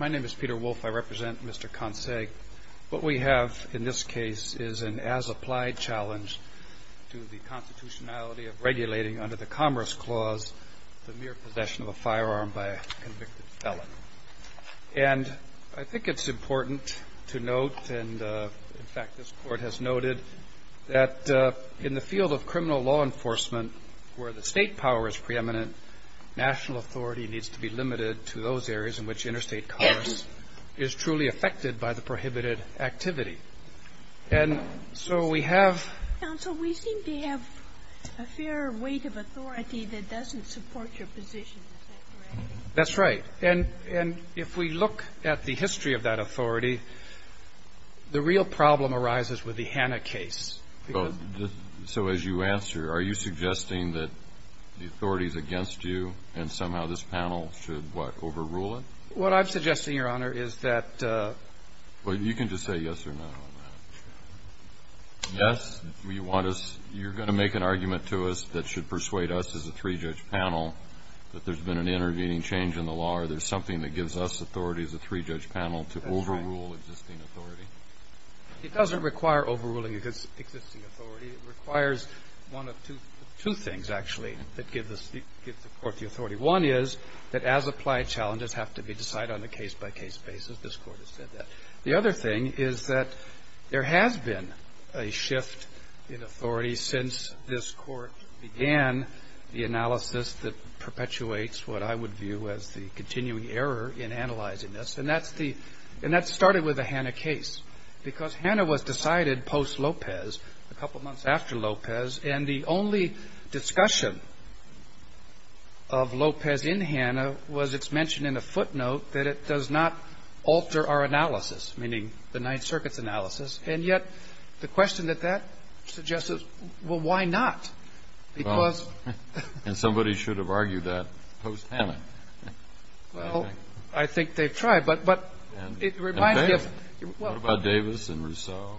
My name is Peter Wolfe. I represent Mr. Kontsagh. What we have in this case is an as-applied challenge to the constitutionality of regulating under the Commerce Clause the mere possession of a firearm by a convicted felon. And I think it's important to note, and in fact this Court has noted, that in the field of criminal law enforcement where the state power is preeminent, national authority needs to be limited to those areas in which interstate commerce is truly affected by the prohibited activity. And so we have... Counsel, we seem to have a fair weight of authority that doesn't support your position. That's right. And if we look at the history of that authority, the real problem arises with the Hanna case. So as you answer, are you suggesting that the authorities against you and somehow this panel should, what, overrule it? What I'm suggesting, Your Honor, is that... Well, you can just say yes or no on that. Yes, you want us, you're going to make an argument to us that should persuade us as a three-judge panel that there's been an intervening change in the law or there's something that gives us authority as a three-judge panel to overrule existing authority. It doesn't require overruling existing authority. It requires one of two things, actually, that gives the Court the authority. One is that as-applied challenges have to be decided on a case-by-case basis. This Court has said that. The other thing is that there has been a shift in authority since this Court began the analysis that perpetuates what I would view as the continuing error in analyzing this. And that's the... And that started with the Hanna case because Hanna was decided post-Lopez, a couple months after Lopez, and the only discussion of Lopez in Hanna was it's mentioned in a footnote that it does not alter our analysis, meaning the Ninth Circuit's analysis. And yet the question that that suggests is, well, why not? Because... And somebody should have argued that post-Hanna. Well, I think they've tried, but it reminds me of... And Davis. What about Davis and Rousseau?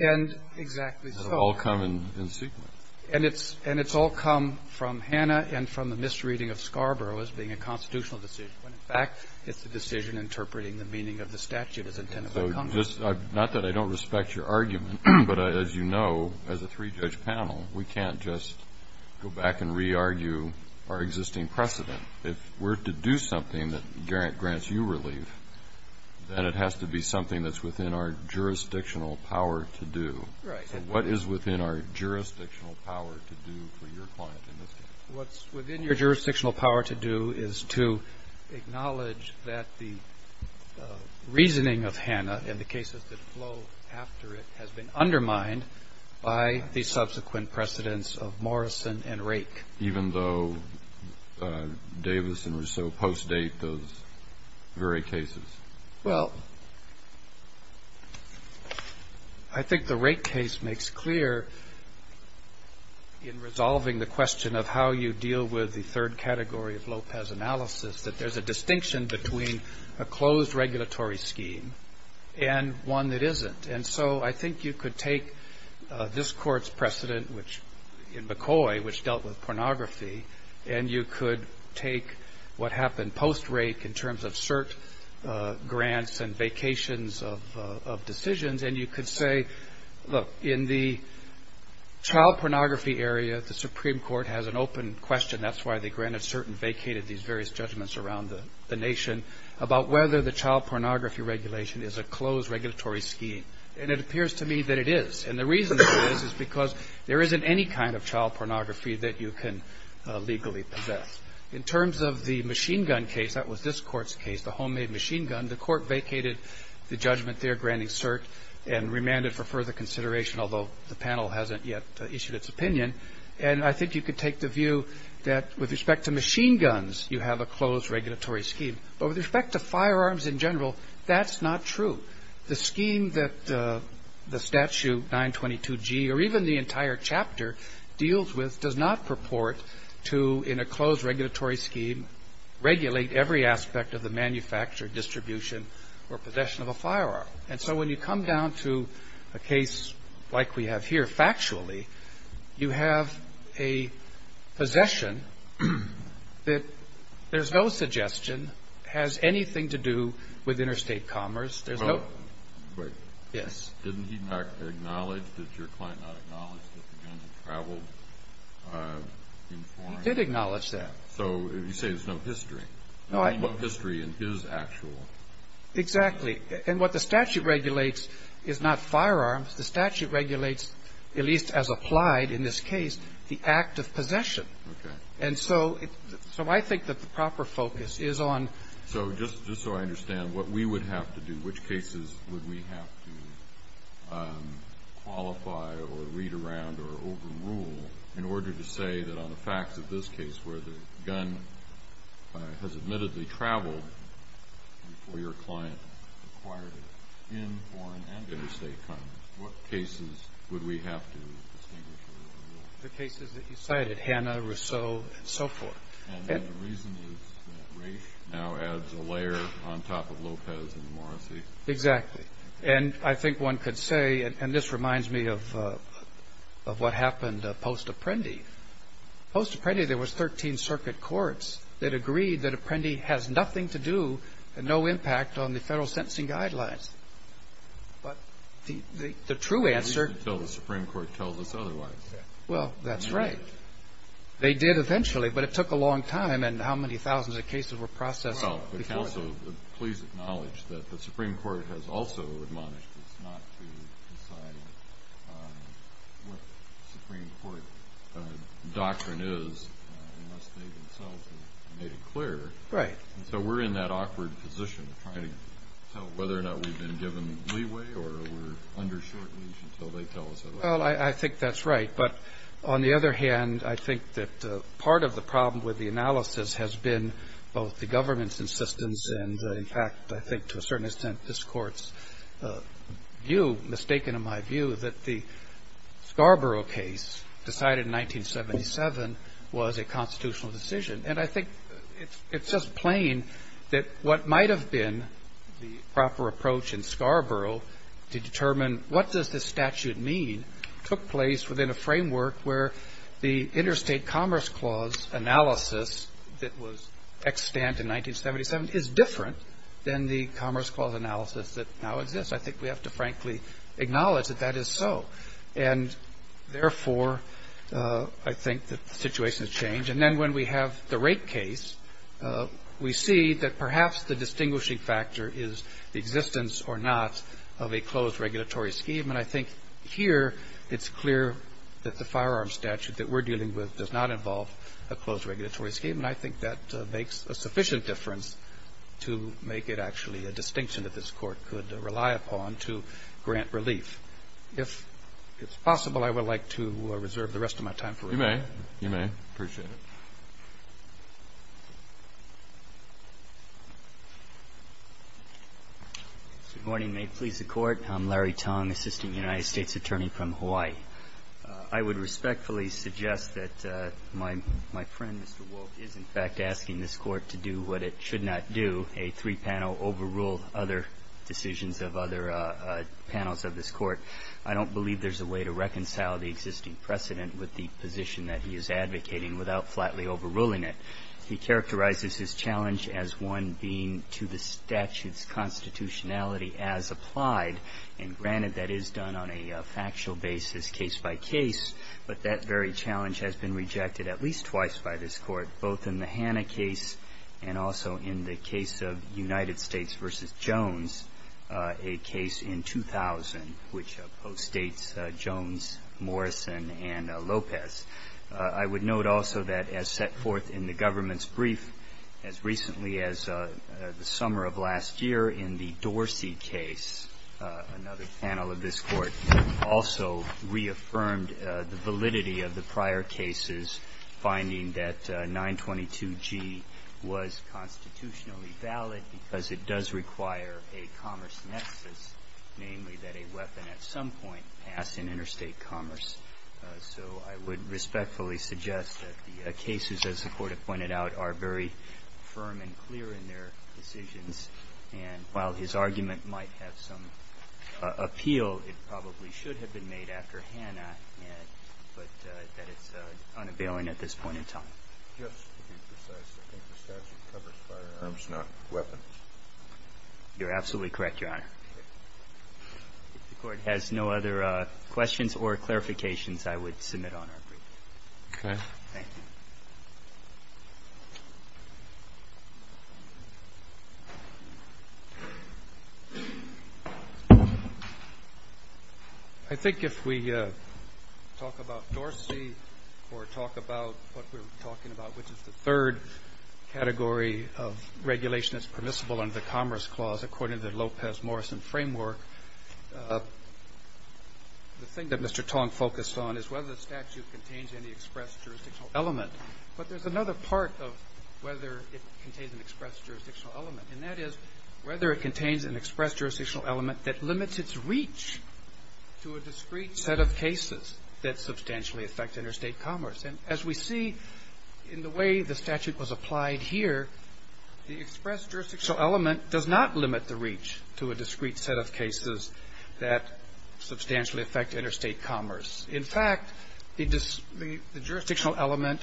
And exactly so. It will all come in sequence. And it's all come from Hanna and from the misreading of Scarborough as being a constitutional decision, when in fact it's a decision interpreting the meaning of the statute as intended by Congress. Not that I don't respect your argument, but as you know, as a three-judge panel, we can't just go back and re-argue our existing precedent. If we're to do something that grants you relief, then it has to be something that's within our jurisdictional power to do. Right. So what is within our jurisdictional power to do for your client in this case? What's within your jurisdictional power to do is to acknowledge that the reasoning of Hanna and the cases that flow after it has been undermined by the subsequent precedents of Morrison and Rake. Even though Davis and Rousseau post-date those very cases. Well, I think the Rake case makes clear in resolving the question of how you deal with the third category of Lopez analysis, that there's a distinction between a closed regulatory scheme and one that isn't. And so I think you could take this court's precedent in McCoy, which dealt with pornography, and you could take what happened post-Rake in terms of cert grants and vacations of decisions, and you could say, look, in the child pornography area, the Supreme Court has an open question. That's why they granted cert and vacated these various judgments around the nation about whether the child pornography regulation is a closed regulatory scheme. And it appears to me that it is. And the reason for this is because there isn't any kind of child pornography that you can legally possess. In terms of the machine gun case, that was this court's case, the homemade machine gun, the court vacated the judgment there granting cert and remanded for further consideration, although the panel hasn't yet issued its opinion. And I think you could take the view that with respect to machine guns, you have a closed regulatory scheme. But with respect to firearms in general, that's not true. The scheme that the statute 922G or even the entire chapter deals with does not purport to, in a closed regulatory scheme, regulate every aspect of the manufacture, distribution, or possession of a firearm. And so when you come down to a case like we have here, factually, you have a possession that there's no suggestion, has anything to do with interstate commerce. There's no – Wait. Yes. Didn't he acknowledge, did your client not acknowledge that the gun had traveled in foreign – He did acknowledge that. So you say there's no history. No history in his actual – Exactly. And what the statute regulates is not firearms. The statute regulates, at least as applied in this case, the act of possession. Okay. And so I think that the proper focus is on – So just so I understand, what we would have to do, which cases would we have to qualify or read around or overrule in order to say that on the facts of this case where the gun has admittedly traveled before your client acquired it in foreign and interstate commerce, what cases would we have to distinguish or overrule? The cases that you cited, Hanna, Rousseau, and so forth. And then the reason is that Raich now adds a layer on top of Lopez and Morrissey. Exactly. And I think one could say – and this reminds me of what happened post-Apprendi. Post-Apprendi, there was 13 circuit courts that agreed that Apprendi has nothing to do and no impact on the federal sentencing guidelines. But the true answer – At least until the Supreme Court tells us otherwise. Well, that's right. They did eventually, but it took a long time and how many thousands of cases were processed. Please acknowledge that the Supreme Court has also admonished us not to decide what the Supreme Court doctrine is unless they themselves have made it clear. Right. So we're in that awkward position of trying to tell whether or not we've been given leeway or we're under short leash until they tell us otherwise. Well, I think that's right. But on the other hand, I think that part of the problem with the analysis has been both the government's insistence and, in fact, I think to a certain extent, this Court's view, mistaken in my view, that the Scarborough case decided in 1977 was a constitutional decision. And I think it's just plain that what might have been the proper approach in Scarborough to determine what does this statute mean took place within a framework where the Interstate Commerce Clause analysis that was extant in 1977 is different than the Commerce Clause analysis that now exists. I think we have to frankly acknowledge that that is so. And, therefore, I think that the situation has changed. And then when we have the rate case, we see that perhaps the distinguishing factor is the existence or not of a closed regulatory scheme. And I think here it's clear that the firearm statute that we're dealing with does not involve a closed regulatory scheme. And I think that makes a sufficient difference to make it actually a distinction that this Court could rely upon to grant relief. If it's possible, I would like to reserve the rest of my time for it. You may. You may. Appreciate it. Good morning. May it please the Court. I'm Larry Tong, Assistant United States Attorney from Hawaii. I would respectfully suggest that my friend, Mr. Wolk, is in fact asking this Court to do what it should not do, a three-panel overrule other decisions of other panels of this Court. I don't believe there's a way to reconcile the existing precedent with the position that he is advocating without flatly overruling it. He characterizes his challenge as one being to the statute's constitutionality as applied. And granted, that is done on a factual basis, case by case. But that very challenge has been rejected at least twice by this Court, both in the Hanna case and also in the case of United States v. Jones, a case in 2000, which postdates Jones, Morrison, and Lopez. I would note also that as set forth in the government's brief as recently as the Dorsey case, another panel of this Court also reaffirmed the validity of the prior cases finding that 922G was constitutionally valid because it does require a commerce nexus, namely that a weapon at some point pass in interstate commerce. So I would respectfully suggest that the cases, as the Court has pointed out, are very firm and clear in their decisions. And while his argument might have some appeal, it probably should have been made after Hanna, but that it's unavailing at this point in time. Just to be precise, I think the statute covers firearms, not weapons. You're absolutely correct, Your Honor. If the Court has no other questions or clarifications, I would submit on our brief. Okay. Thank you. I think if we talk about Dorsey or talk about what we're talking about, which is the third category of regulation that's permissible under the Commerce Clause according to the Lopez-Morrison framework, the thing that Mr. Tong focused on is whether the statute contains any express jurisdictional element. But there's another part of whether it contains an express jurisdictional element, and that is whether it contains an express jurisdictional element that limits its reach to a discrete set of cases that substantially affect interstate commerce. And as we see in the way the statute was applied here, the express jurisdictional element does not limit the reach to a discrete set of cases that substantially affect interstate commerce. In fact, the jurisdictional element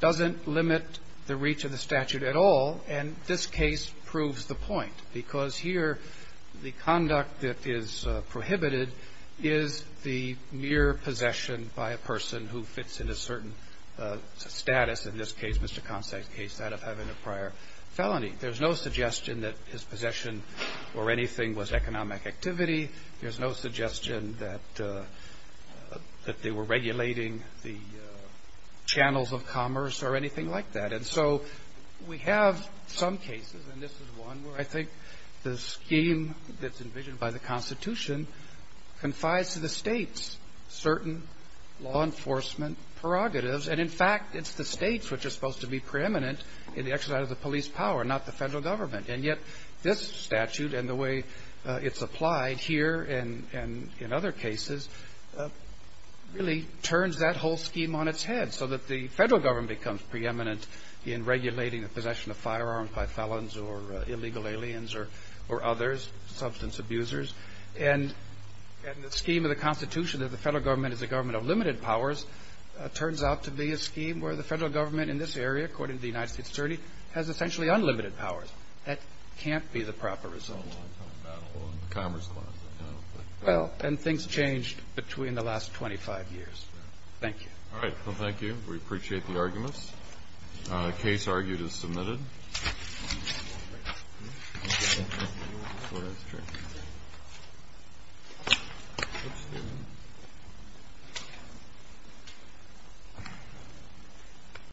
doesn't limit the reach of the statute at all, and this case proves the point, because here the conduct that is prohibited is the mere possession by a person who fits into a certain status, in this case, Mr. Constant's case, that of having a prior felony. There's no suggestion that his possession or anything was economic activity. There's no suggestion that they were regulating the channels of commerce or anything like that. And so we have some cases, and this is one where I think the scheme that's envisioned by the Constitution confides to the states certain law enforcement prerogatives. And, in fact, it's the states which are supposed to be preeminent in the exercise of the police power, not the federal government. And yet this statute and the way it's applied here and in other cases really turns that whole scheme on its head so that the federal government becomes preeminent in regulating the possession of firearms by felons or illegal aliens or others, substance abusers. And the scheme of the Constitution that the federal government is a government of limited powers turns out to be a scheme where the federal government in this case has essentially unlimited powers. That can't be the proper result. Well, and things changed between the last 25 years. Thank you. All right. Well, thank you. We appreciate the arguments. The case argued is submitted. Thank you.